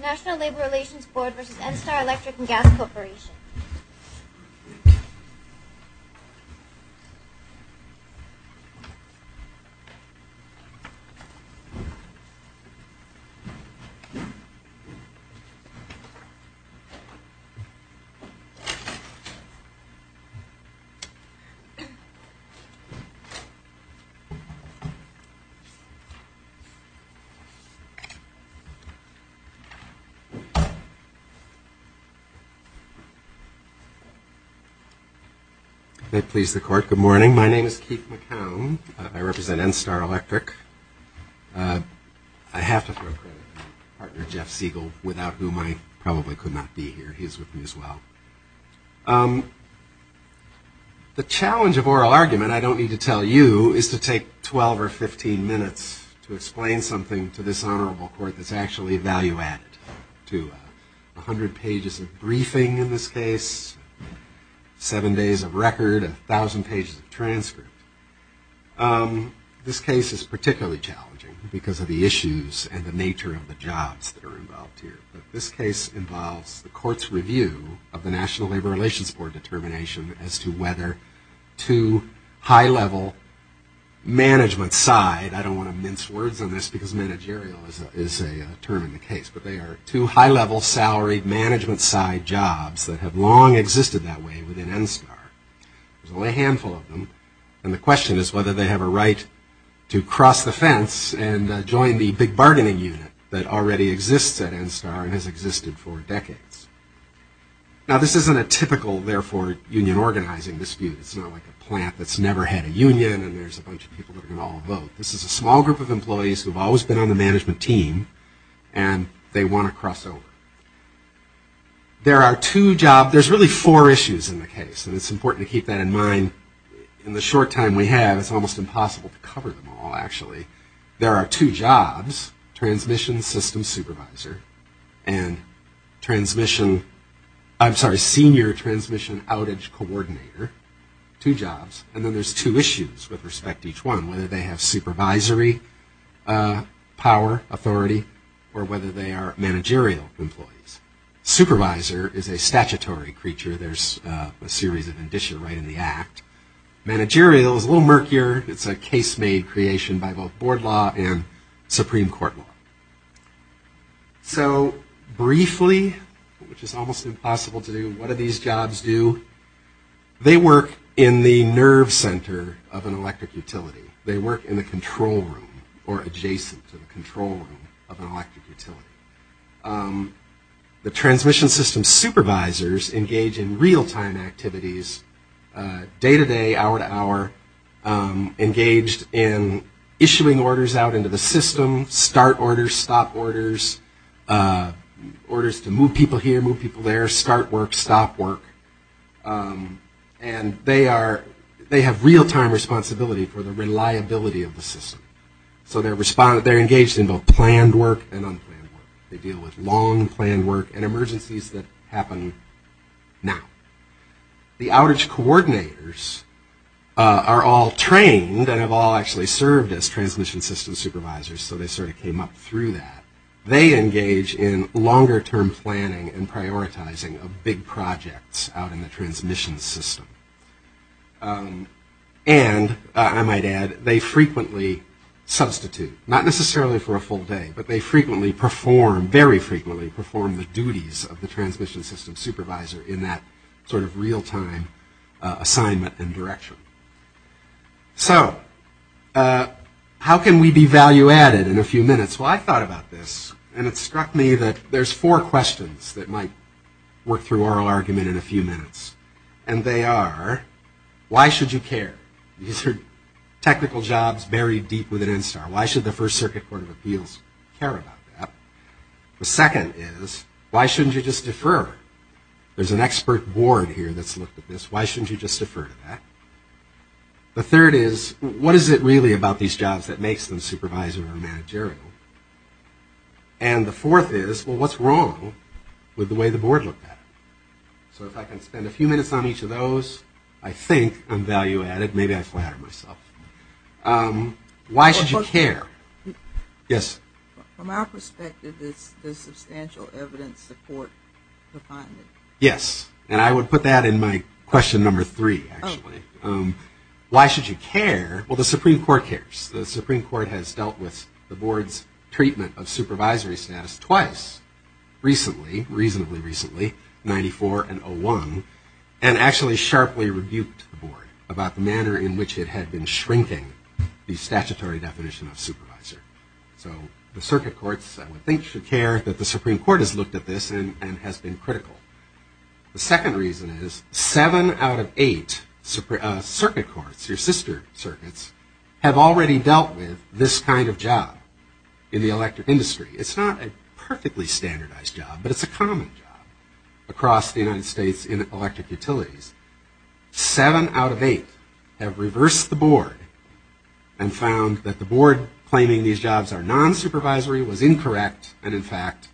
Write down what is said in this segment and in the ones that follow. National Labor Relations Board v. NSTAR Electric & Gas Corporation Good morning. My name is Keith McCown. I represent NSTAR Electric. I have to throw credit to my partner, Jeff Siegel, without whom I probably could not be here. He is with me as well. The challenge of oral argument, I don't need to tell you, is to take 12 or 15 minutes to actually value-add it to 100 pages of briefing in this case, 7 days of record, 1,000 pages of transcript. This case is particularly challenging because of the issues and the nature of the jobs that are involved here. But this case involves the court's review of the National Labor Relations Board determination as to whether to high-level management side, I don't determine the case, but they are two high-level salary management side jobs that have long existed that way within NSTAR. There's only a handful of them, and the question is whether they have a right to cross the fence and join the big bargaining unit that already exists at NSTAR and has existed for decades. Now, this isn't a typical, therefore, union organizing dispute. It's not like a plant that's never had a union and there's a bunch of people that are going to all vote. This is a small group of employees who have always been on the management team, and they want to cross over. There are two jobs, there's really four issues in the case, and it's important to keep that in mind. In the short time we have, it's almost impossible to cover them all, actually. There are two jobs, transmission system supervisor and transmission, I'm sorry, senior transmission outage coordinator, two jobs. And then there's two issues with respect to each one, whether they have supervisory power, authority, or whether they are managerial employees. Supervisor is a statutory creature, there's a series of addition right in the act. Managerial is a little murkier, it's a case-made creation by both board law and Supreme Court law. So briefly, which is almost impossible to do, what do these jobs do? They work in the control room or adjacent to the control room of an electric utility. The transmission system supervisors engage in real-time activities, day-to-day, hour-to-hour, engaged in issuing orders out into the system, start orders, stop orders, orders to move people here, move people there, start work, stop work. And they are, they have real-time responsibility for the reliability of the system. So they're engaged in both planned work and unplanned work. They deal with long planned work and emergencies that happen now. The outage coordinators are all trained and have all actually served as transmission system supervisors, so they sort of came up through that. They engage in longer-term planning and prioritizing of big projects out in the transmission system. And, I might add, they frequently substitute, not necessarily for a full day, but they frequently perform, very frequently perform the duties of the transmission system supervisor in that sort of real-time assignment and direction. So how can we be value-added in a few minutes? Well, I thought about this, and it struck me that there's four questions that might work through oral argument in a few minutes. And they are, why should you care? These are technical jobs buried deep within NSTAR. Why should the First Circuit Court of Appeals care about that? The second is, why shouldn't you just defer? There's an expert board here that's looked at this. Why shouldn't you just defer to that? The third is, what is it really about these jobs that makes them supervisor or managerial? And the fourth is, well, what's wrong with the way the board looked at it? So if I can spend a few minutes on each of those, I think I'm value-added. Maybe I flattered myself. Why should you care? Yes? From our perspective, there's substantial evidence the court defined it. Yes. And I would put that in my question number three, actually. Why should you care? Well, the Supreme Court cares. The Supreme Court has dealt with the board's treatment of supervisory status twice recently, reasonably recently, in 94 and 01, and actually sharply rebuked the board about the manner in which it had been shrinking the statutory definition of supervisor. So the circuit courts, I would think, should care that the Supreme Court has looked at this and has been critical. The second reason is, seven out of eight circuit courts, your sister circuits, have already dealt with this kind of job in the electric industry. It's not a perfectly standardized job, but it's a common job across the United States in electric utilities. Seven out of eight have reversed the board and found that the board claiming these jobs are non-supervisory was incorrect, and in fact,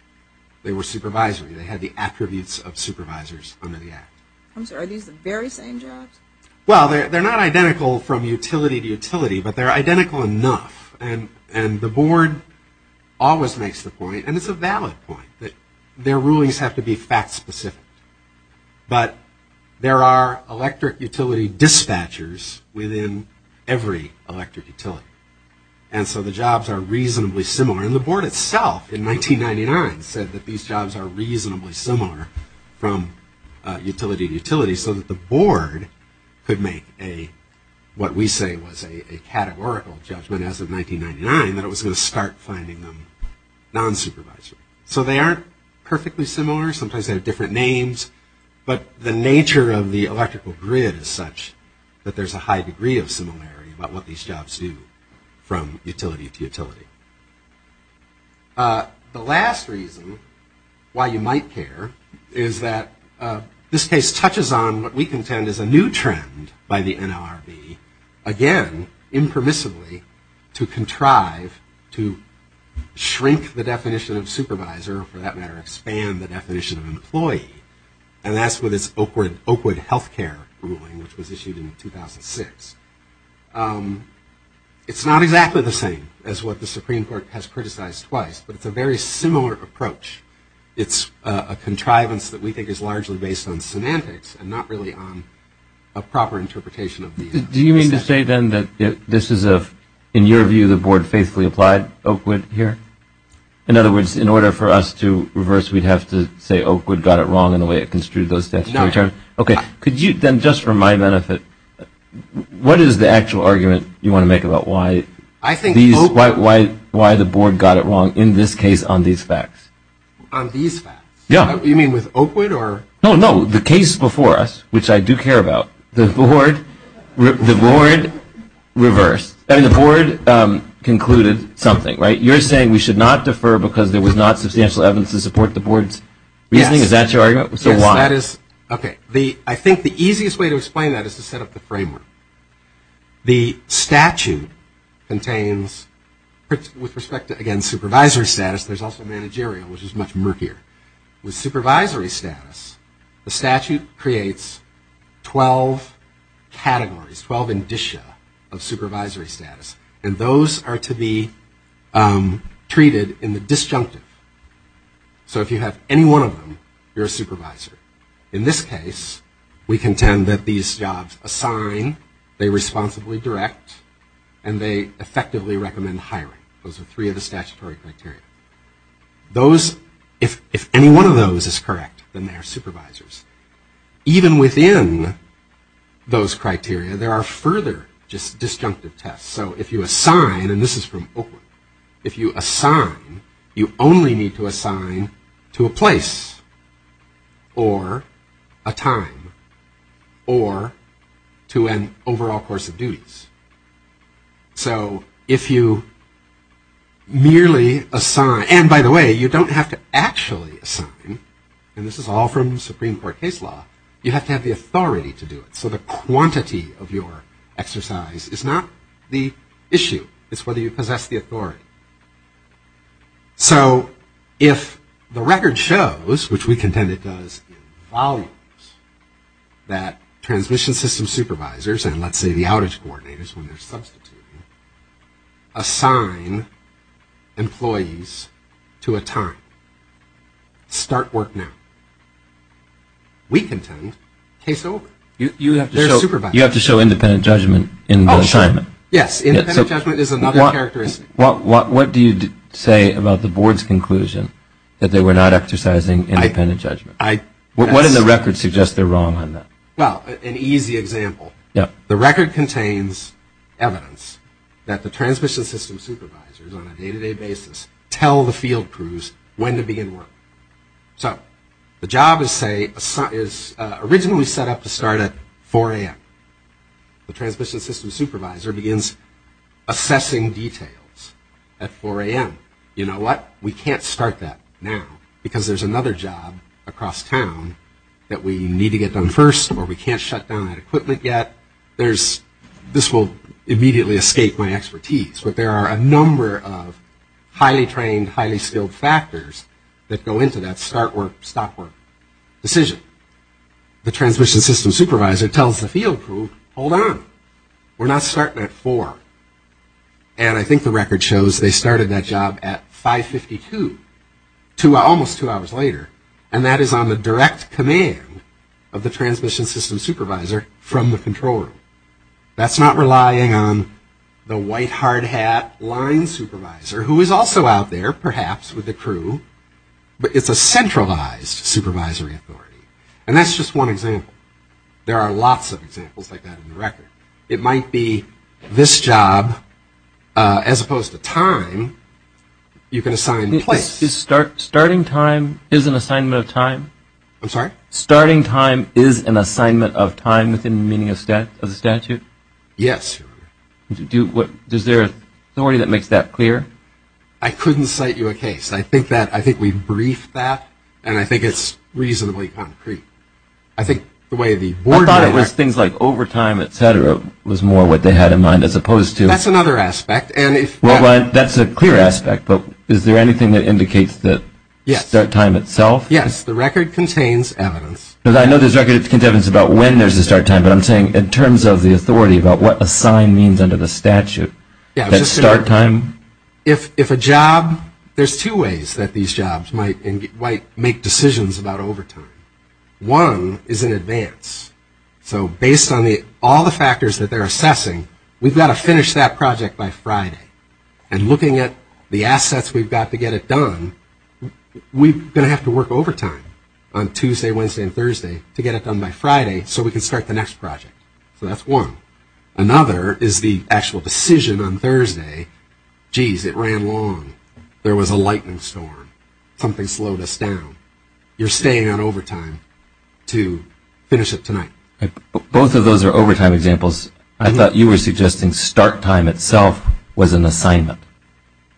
they were supervisory. They had the attributes of supervisors under the Act. I'm sorry, are these the very same jobs? Well, they're not identical from utility to utility, but they're identical enough. And the board always makes the point, and it's a valid point, that their rulings have to be fact-specific. But there are electric utility dispatchers within every electric utility. And so the jobs are reasonably similar. And the board itself in 1999 said that these jobs are reasonably similar from utility to utility, so that the board could make a, what we say was a categorical judgment as of 1999, that it was going to start finding them non-supervisory. So they aren't perfectly similar. Sometimes they have different names. But the nature of the electrical grid is such that there's a high degree of similarity about what these jobs do from utility to utility. The last reason why you might care is that this case touches on what we contend is a new trend by the NLRB, again, impermissibly, to contrive to shrink the definition of supervisor, or for that matter, expand the definition of employee. And that's with this Oakwood health care ruling, which was issued in 2006. It's not exactly the same as what the Supreme Court has criticized twice, but it's a very similar approach. It's a contrivance that we think is largely based on semantics, and not really on a proper interpretation of these. Do you mean to say, then, that this is a, in your view, the board faithfully applied Oakwood here? In other words, in order for us to reverse, we'd have to say Oakwood got it wrong in the way it construed those statutory terms? No. Okay. Could you, then, just for my benefit, what is the actual argument you want to make about why these, why the board got it wrong in this case on these facts? On these facts? Yeah. You mean with Oakwood, or? No, no. The case before us, which I do care about, the board reversed. I mean, the board concluded something, right? You're saying we should not defer because there was not a majority vote, so why? Yes, that is, okay. I think the easiest way to explain that is to set up the framework. The statute contains, with respect to, again, supervisory status, there's also managerial, which is much murkier. With supervisory status, the statute creates 12 categories, 12 indicia of supervisory status, and those are to be treated in the disjunctive. So if you have any one of them, you're a supervisor. In this case, we contend that these jobs assign, they responsibly direct, and they effectively recommend hiring. Those are three of the statutory criteria. Those, if any one of those is correct, then they're supervisors. Even within those criteria, there are further disjunctive tests. So if you assign, and this is from Oakwood, if you assign, you only need to assign to a place or a time or to an overall course of duties. So if you merely assign, and by the way, you don't have to actually assign, and this is all from Supreme Court case law, you have to have the authority to do it. So the quantity of your exercise is not the issue. It's whether you possess the authority. So if the record shows, which we contend it does in volumes, that transmission system supervisors, and let's say the outage coordinators when they're substituting, assign employees to a time. Start work now. We contend case over. They're supervisors. You have to show independent judgment in the assignment. Yes. Independent judgment is another characteristic. What do you say about the board's conclusion that they were not exercising independent judgment? What does the record suggest they're wrong on that? Well, an easy example. The record contains evidence that the transmission system supervisors on a day-to-day basis tell the field crews when to begin work. So the job is originally set up to start at 4 a.m. The transmission system supervisor begins assessing details at 4 a.m. You know what? We can't start that now because there's another job across town that we need to get done first or we can't shut down that equipment yet. There's, this will immediately escape my expertise, but there are a number of highly trained, highly skilled factors that go into that start work, stop work decision. The transmission system supervisor tells the field crew, hold on. We're not starting at 4. And I think the record shows they started that job at 5.52, almost two hours later. And that is on the direct command of the transmission system supervisor from the control room. That's not relying on the white hard hat line supervisor who is also out there perhaps with the crew, but it's a centralized supervisory authority. And that's just one example. There are lots of examples like that in the record. It might be this job as opposed to time you can assign place. Starting time is an assignment of time? I'm sorry? Starting time is an assignment of time within the meaning of the statute? Yes. Is there a story that makes that clear? I couldn't cite you a case. I think that, I think we've briefed that and I think it's reasonably concrete. I think the way the board of directors... I thought it was things like overtime, et cetera, was more what they had in mind as opposed to... That's another aspect and if... Well, that's a clear aspect, but is there anything that indicates the start time itself? Yes, the record contains evidence. But I know there's evidence about when there's a start time, but I'm saying in terms of the authority about what assign means under the statute, that start time... If a job, there's two ways that these jobs might make decisions about overtime. One is in advance. So based on all the factors that they're assessing, we've got to finish that project by Friday. And looking at the assets we've got to get it done, we're going to have to work overtime on Tuesday, Wednesday, and Thursday to get it done by Friday so we can start the next project. So that's one. Another is the actual decision on Thursday. Jeez, it ran long. There was a lightning storm. Something slowed us down. You're staying on overtime to finish it tonight. Both of those are overtime examples. I thought you were suggesting start time itself was an assignment.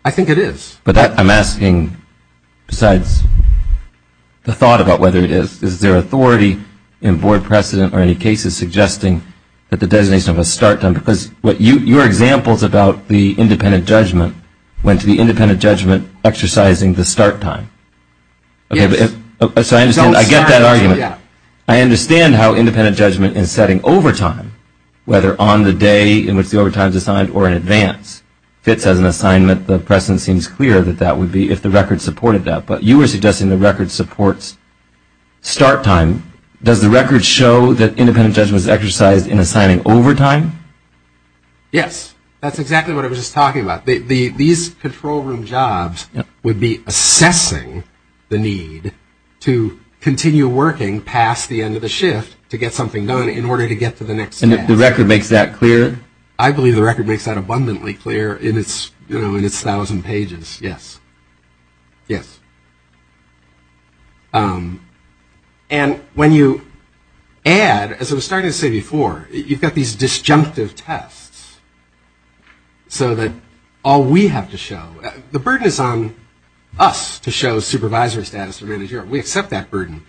I think it is. But I'm asking, besides the thought about whether it is, is there authority in board precedent or any cases suggesting that the designation of a start time, because your examples about the independent judgment went to the independent judgment exercising the start time. So I get that argument. I understand how independent judgment is setting overtime, whether on the day in which the overtime is assigned or in advance. If it says an assignment, the precedent seems clear that that would be if the record supported that. But you were suggesting the record supports start time. Does the record show that independent judgment is exercised in assigning overtime? Yes. That's exactly what I was just talking about. These control room jobs would be assessing the need to continue working past the end of the shift to get something done in order to get to the next task. And if the record makes that clear? I believe the record makes that abundantly clear in its 1,000 pages, yes. Yes. And when you add, as I was starting to say before, you've got these disjunctive tests so that all we have to show, the burden is on us to show supervisor status or manager. We accept that burden.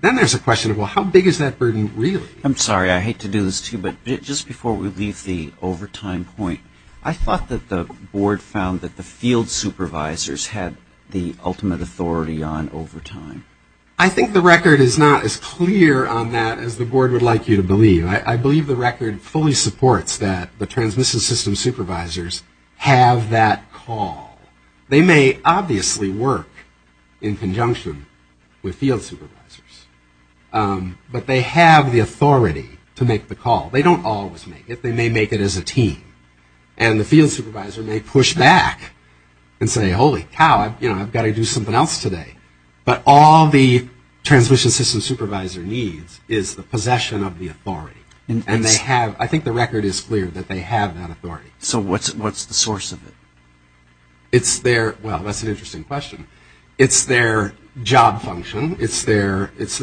Then there's a question of, well, how big is that burden really? I'm sorry. I hate to do this to you, but just before we leave the overtime point, I thought that the board found that the field supervisors had the ultimate authority on overtime. I think the record is not as clear on that as the board would like you to believe. I believe the record fully supports that the transmission system supervisors have that call. They may obviously work in conjunction with field supervisors, but they have the authority to make the call. They don't always make it. They may make it as a team. And the field supervisor may push back and say, holy cow, I've got to do something else today. But all the transmission system supervisor needs is the possession of the authority. And they have, I think the record is clear that they have that authority. So what's the source of it? It's their, well, that's an interesting question. It's their job function. It's their, it's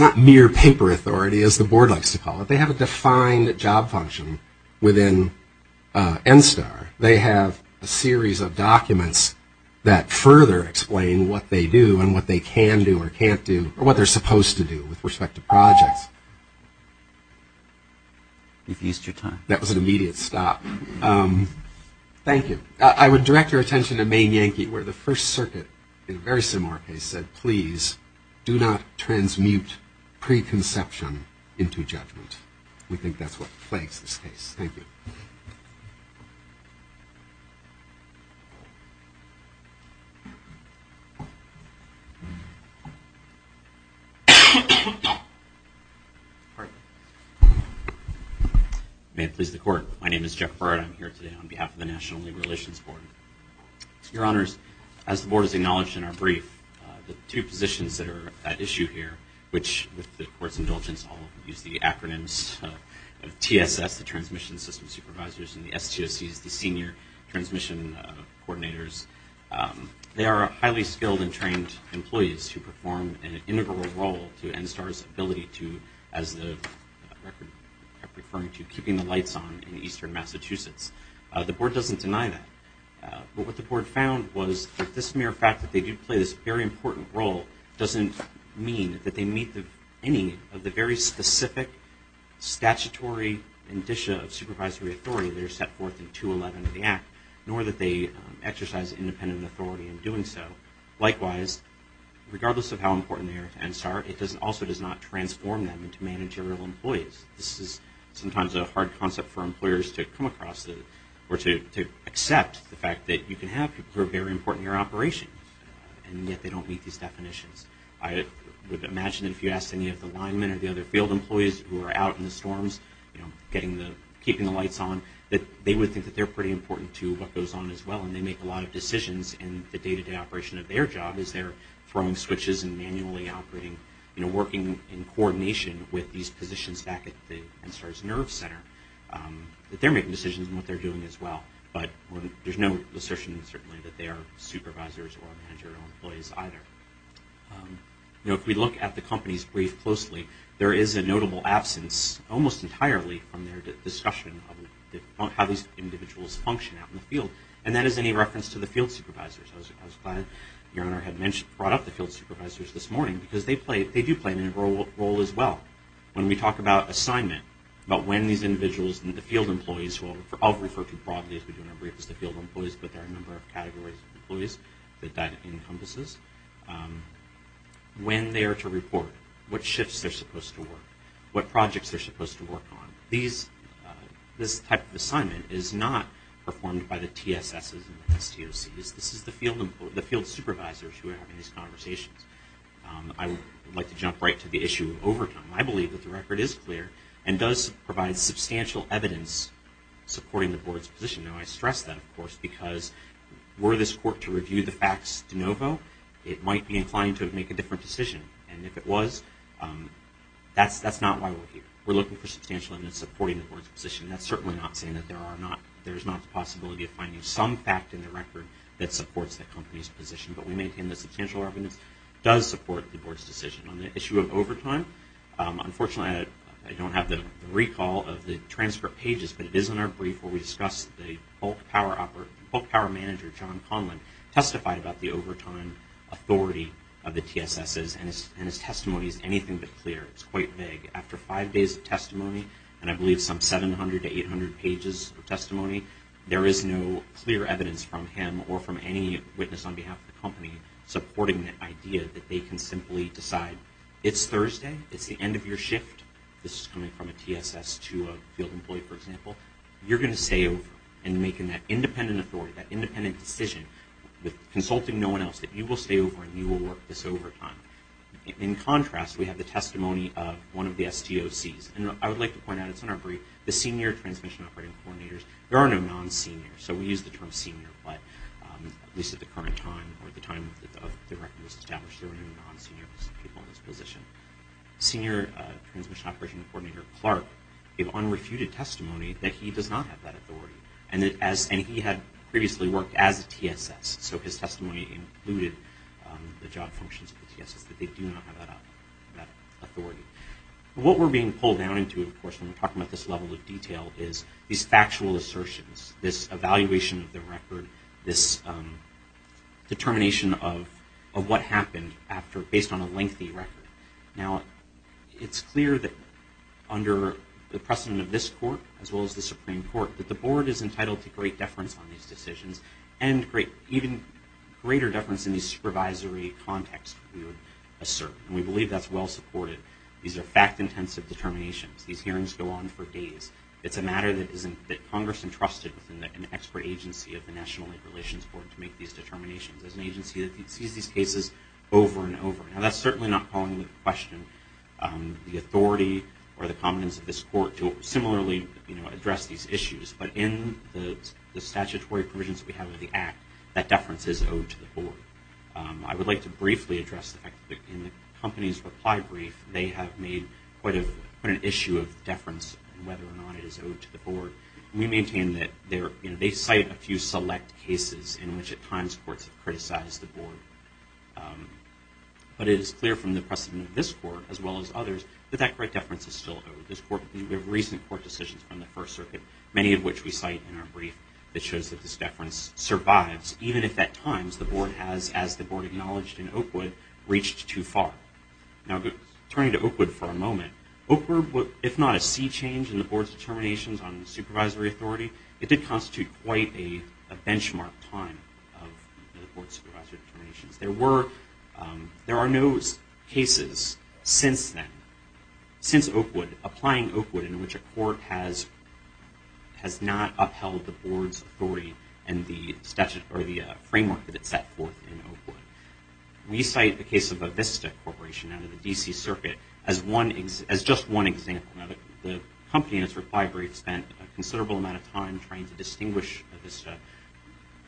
not mere paper authority, as the board likes to call it. They have a defined job function within NSTAR. They have a series of documents that further explain what they do and what they can do or can't do, or what they're supposed to do with respect to projects. You've used your time. That was an immediate stop. Thank you. I would direct your attention to Maine Yankee, where the First Circuit, in a very similar case, said, please, do not transmute preconception into judgment. We think that's what plagues this case. Thank you. May it please the Court. My name is Jeff Barrett. I'm here today on behalf of the National Labor Relations Board. Your Honors, as the Board has acknowledged in our brief, the two positions that are at issue here, which, with the Court's indulgence, I'll use the acronyms of TSS, the Transmission System Supervisors, and the STOCs, the Senior Transmission Coordinators, they are highly skilled and trained employees who perform an integral role to NSTAR's ability to, as the record kept referring to, keeping the lights on in eastern Massachusetts. The Board doesn't deny that. But what the Board found was that this mere fact that they do play this very important role doesn't mean that they meet any of the very specific statutory indicia of supervisory authority that are set forth in 211 of the Act, nor that they exercise independent authority in doing so. Likewise, regardless of how important they are to NSTAR, it also does not transform them into managerial employees. This is sometimes a hard concept for employers to come across or to accept the fact that you can have people who are very important in your operation and yet they don't meet these definitions. I would imagine that if you asked any of the linemen or the other field employees who are out in the storms, you know, keeping the lights on, that they would think that they're pretty important to what goes on as well. And they make a lot of decisions in the day-to-day operation of their job as they're throwing switches and manually operating, you know, working in coordination with these positions back at the NSTAR's NERV Center, that they're making decisions in what they're doing as well. But there's no assertion, certainly, that they are supervisors or managerial employees either. You know, if we look at the companies briefed closely, there is a notable absence, almost entirely, on their discussion of how these individuals function out in the field. And that is any reference to the field supervisors. I was glad Your Honor had brought up the field supervisors this morning, because they do play a role as well. When we talk about assignment, about when these individuals, the field employees, I'll refer to broadly as we do in our briefs, the field employees, but there are a number of categories of employees that that encompasses. When they are to report, what shifts they're supposed to work, what projects they're supposed to work on. These, this type of assignment is not performed by the TSS's and the STOC's. This is the field supervisors who are having these conversations. I would like to jump right to the issue of overtime. I believe that the record is clear and does provide substantial evidence supporting the board's position. Now I stress that, of course, because were this court to review the facts de novo, it might be inclined to make a different decision. And if it was, that's not why we're here. We're looking for substantial evidence supporting the board's position. That's certainly not saying that there are not, there's not the possibility of finding some fact in the record that supports that company's position. But we maintain the substantial evidence does support the board's decision. On the issue of overtime, unfortunately I don't have the recall of the transcript pages, but it is in our brief where we discuss the bulk power operator, bulk power manager, John Conlon, testified about the overtime authority of the TSS's and his testimony is anything but clear. It's quite vague. After five days of testimony, and I believe some 700 to 800 pages of testimony, there is no clear evidence from him or from any witness on behalf of the company supporting the idea that they can simply decide it's Thursday, it's the end of your shift, this is coming from a TSS to a field employee for example, you're going to stay over. And making that independent authority, that independent decision with consulting no one else, that you will stay over and you will work this overtime. In contrast, we have the testimony of one of the STOC's, and I would like to point out, it's in our brief, the Senior Transmission Operating Coordinators. There are no non-senior, so we use the term senior, but at least at the current time, or at the time the director was established there were no non-senior people in this position. Senior Transmission Operating Coordinator Clark gave unrefuted testimony that he does not have that authority, and he had previously worked as a TSS, so his testimony included the job functions of the TSS, that they do not have that authority. What we're being pulled down into of course when we're talking about this level of detail is these factual assertions, this evaluation of the record, this determination of what happened based on a lengthy record. Now it's clear that under the precedent of this court, as well as the Supreme Court, that the Board is entitled to great deference on these decisions, and even greater deference in the supervisory context we would assert, and we believe that's well supported. These are fact intensive determinations, these hearings go on for days. It's a matter that Congress entrusted within an expert agency of the National Labor Relations Board to make these determinations, as an agency that sees these cases over and over. Now that's certainly not calling into question the authority or the competence of this court to similarly address these issues, but in the statutory provisions we have in the Act, that deference is owed to the Board. I would like to briefly address the fact that in the company's reply brief, they have made quite an issue of deference and whether or not it is owed to the Board. We maintain that they cite a few select cases in which at times courts have criticized the Board. But it is clear from the precedent of this court, as well as others, that that great deference is still owed. There are recent court decisions from the First Circuit, many of which we cite in our brief, that shows that this deference survives, even if at times the Board has, as the Board acknowledged in the court, reached too far. Now turning to Oakwood for a moment, Oakwood, if not a sea change in the Board's determinations on supervisory authority, it did constitute quite a benchmark time of the Board's supervisory determinations. There were, there are no cases since then, since Oakwood, applying Oakwood, in which a court has not upheld the Board's authority and the framework that it set forth in Oakwood. We cite the case of Avista Corporation out of the D.C. Circuit as just one example. Now the company in its reply brief spent a considerable amount of time trying to distinguish Avista.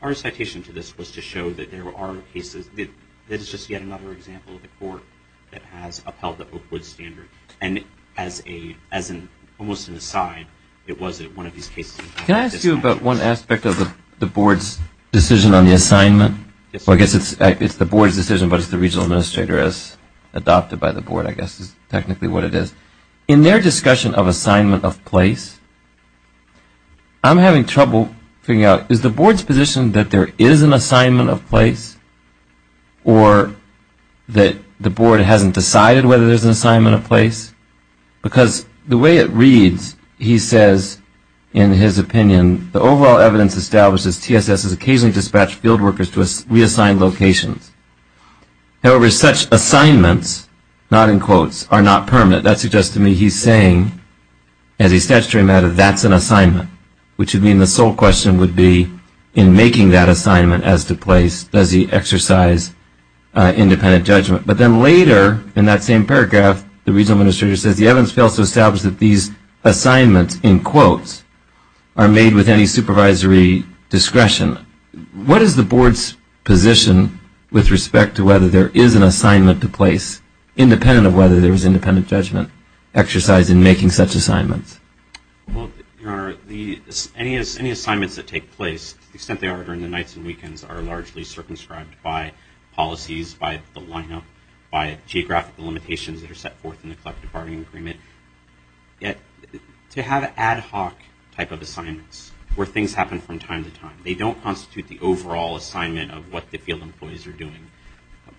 Our citation to this was to show that there are cases, that it's just yet another example of a court that has upheld the Oakwood standard. And as an, almost an aside, it was one of these cases. Can I ask you about one aspect of the Board's decision on the assignment? Well I guess it's the Board's decision, but it's the Regional Administrator, as adopted by the Board, I guess is technically what it is. In their discussion of assignment of place, I'm having trouble figuring out, is the Board's position that there is an assignment of place, or that the Board hasn't decided whether there's an assignment of place? Because the way it reads, he says, in his opinion, the overall evidence establishes TSS has occasionally dispatched field workers to reassigned locations. However, such assignments, not in quotes, are not permanent. That suggests to me he's saying, as a statutory matter, that's an assignment. Which would mean the sole question would be, in making that assignment as to place, does he exercise independent judgment? But then later, in that same paragraph, the Regional Administrator says, the evidence fails to establish that these assignments, in quotes, are made with any supervisory discretion. What is the Board's position with respect to whether there is an assignment to place, independent of whether there is independent judgment exercised in making such assignments? Well, Your Honor, any assignments that take place, to the extent they are during the nights and weekends, are largely circumscribed by policies, by the limitations that are set forth in the Collective Bargaining Agreement. Yet, to have ad hoc type of assignments, where things happen from time to time, they don't constitute the overall assignment of what the field employees are doing,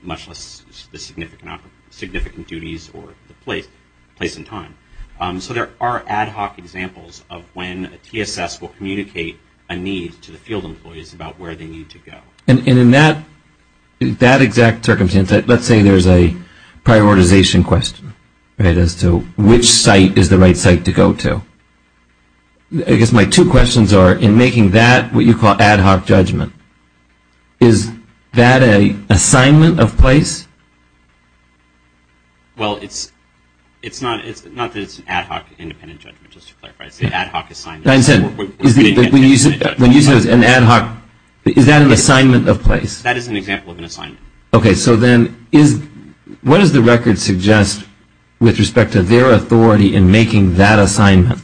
much less the significant duties or the place and time. So there are ad hoc examples of when a TSS will communicate a need to the field employees about where they need to go. And in that exact circumstance, let's say there's a prioritization question as to which site is the right site to go to. I guess my two questions are, in making that what you call ad hoc judgment, is that an assignment of place? Well, it's not that it's an ad hoc independent judgment, just to clarify. It's an ad hoc assignment. I understand. When you say it's an ad hoc, is that an assignment of place? That is an example of an assignment. OK. So then, what does the record suggest with respect to their authority in making that assignment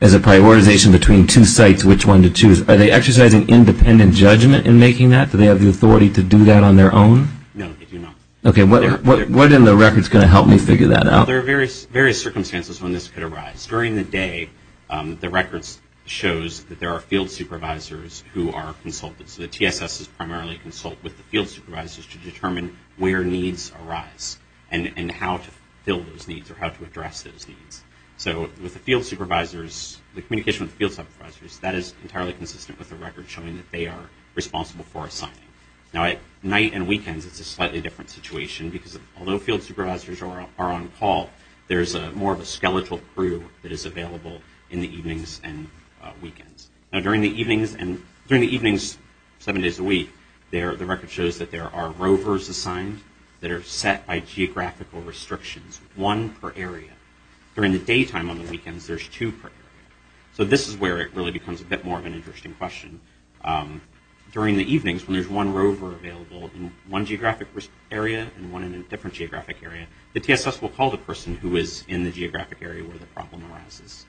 as a prioritization between two sites, which one to choose? Are they exercising independent judgment in making that? Do they have the authority to do that on their own? No, they do not. OK. What in the record is going to help me figure that out? Well, there are various circumstances when this could arise. During the day, the record shows that there are field supervisors who are consulted. So the TSSes primarily consult with the field supervisors to determine where needs arise and how to fill those needs or how to address those needs. So with the field supervisors, the communication with the field supervisors, that is entirely consistent with the record showing that they are responsible for assigning. Now at night and weekends, it's a slightly different situation, because although field personnel, there's more of a skeletal crew that is available in the evenings and weekends. During the evenings, seven days a week, the record shows that there are rovers assigned that are set by geographical restrictions, one per area. During the daytime on the weekends, there's two per area. So this is where it really becomes a bit more of an interesting question. During the evenings, when there's one rover available in one geographic area and one in a different geographic area, the TSS will call the person who is in the geographic area where the problem arises.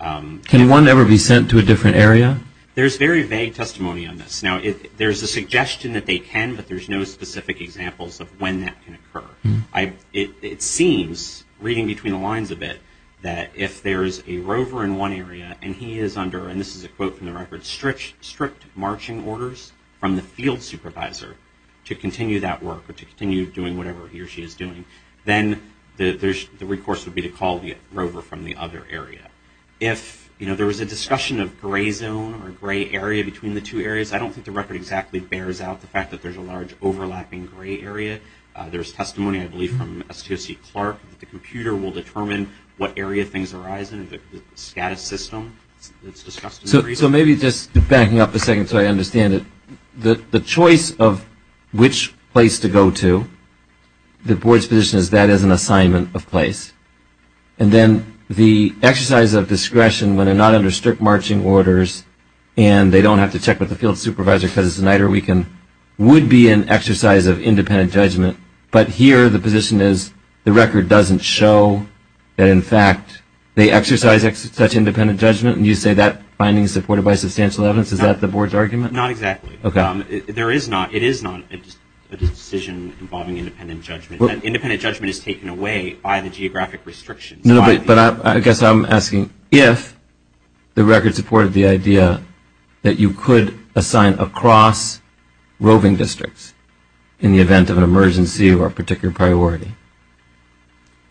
Can one ever be sent to a different area? There's very vague testimony on this. Now, there's a suggestion that they can, but there's no specific examples of when that can occur. It seems, reading between the lines a bit, that if there's a rover in one area and he is under, and this is a quote from the record, strict marching orders from the field supervisor to continue that work or to continue doing whatever he or she is doing, then the recourse would be to call the rover from the other area. If there was a discussion of gray zone or gray area between the two areas, I don't think the record exactly bears out the fact that there's a large overlapping gray area. There's testimony, I believe, from S.J.C. Clark that the computer will determine what area things arise in, the status system that's discussed in the gray zone. So maybe just backing up a second so I understand it, the choice of which place to go to, the board's position is that is an assignment of place. And then the exercise of discretion when they're not under strict marching orders and they don't have to check with the field supervisor because it's a night or weekend would be an exercise of independent judgment. But here the position is the record doesn't show that in fact they exercise such independent judgment. And you say that finding is supported by substantial evidence. Is that the board's argument? Not exactly. There is not. It is not a decision involving independent judgment. Independent judgment is taken away by the geographic restrictions. But I guess I'm asking if the record supported the idea that you could assign across roving districts in the event of an emergency or a particular priority,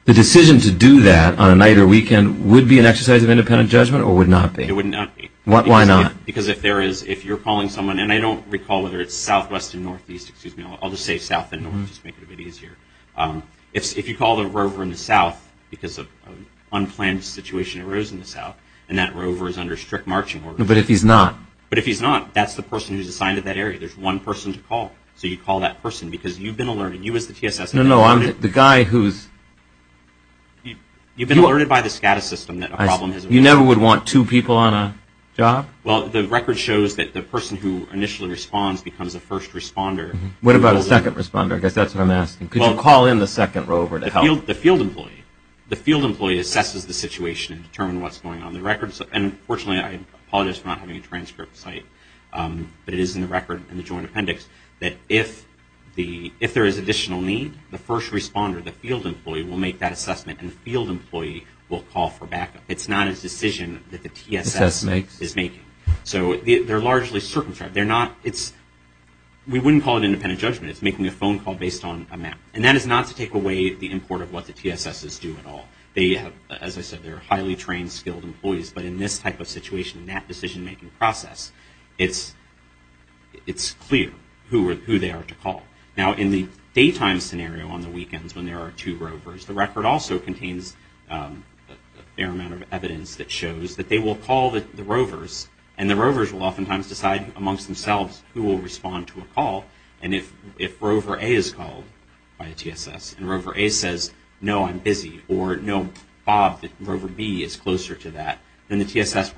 the decision to do that on a night or weekend would be an exercise of independent judgment or would not be? It would not be. Why not? Because if you're calling someone, and I don't recall whether it's southwest or northeast, I'll just say south and northeast to make it a bit easier. If you call the rover in the south because an unplanned situation arose in the south and that rover is under strict marching orders. But if he's not? But if he's not, that's the person who's assigned to that area. There's one person to call. So you call that person because you've been alerted. You as the TSS. No, no. I'm the guy who's... You've been alerted by the SCADA system that a problem has arisen. You never would want two people on a job? Well, the record shows that the person who initially responds becomes a first responder. What about a second responder? I guess that's what I'm asking. Could you call in the second rover to help? The field employee. The field employee assesses the situation and determines what's going on. And fortunately, I apologize for not having a transcript site, but it is in the record in the joint appendix that if there is additional need, the first responder, the field employee, will make that assessment and the field employee will call for backup. It's not a decision that the TSS is making. So they're largely circumscribed. We wouldn't call it independent judgment. It's making a phone call based on a map. And that is not to take away the import of what the TSSes do at all. As I said, they're highly trained, skilled employees. But in this type of situation, in that decision-making process, it's clear who they are to call. Now, in the daytime scenario on the weekends when there are two rovers, the record also contains a fair amount of evidence that shows that they will call the rovers and the rovers will oftentimes decide amongst themselves who will respond to a call. And if rover A is called by the TSS and rover A says, no, I'm busy, or no, Bob, rover B is closer to that, then the TSS,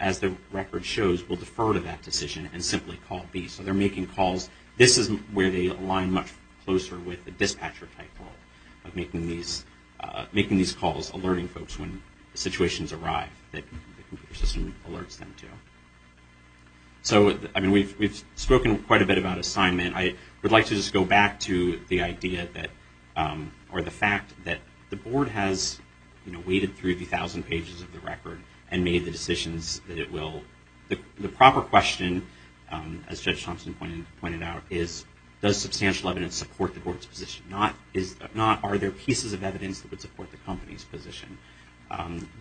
as the record shows, will defer to that decision and simply call B. So they're making calls. This is where they align much closer with the dispatcher type role of making these calls, alerting folks when situations arrive that the computer system alerts them to. So, I mean, we've spoken quite a bit about assignment. I would like to just go back to the idea that or the fact that the board has waded through 50,000 pages of the record and made the decisions that it will. The proper question, as Judge Thompson pointed out, is does substantial evidence support the board's position? Are there pieces of evidence that would support the company's position?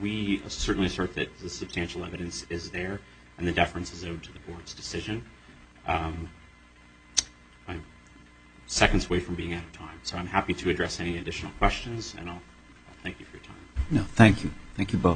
We certainly assert that the substantial evidence is there and the deference is owed to the board's decision. I'm seconds away from being out of time, so I'm happy to address any additional questions. Thank you for your time.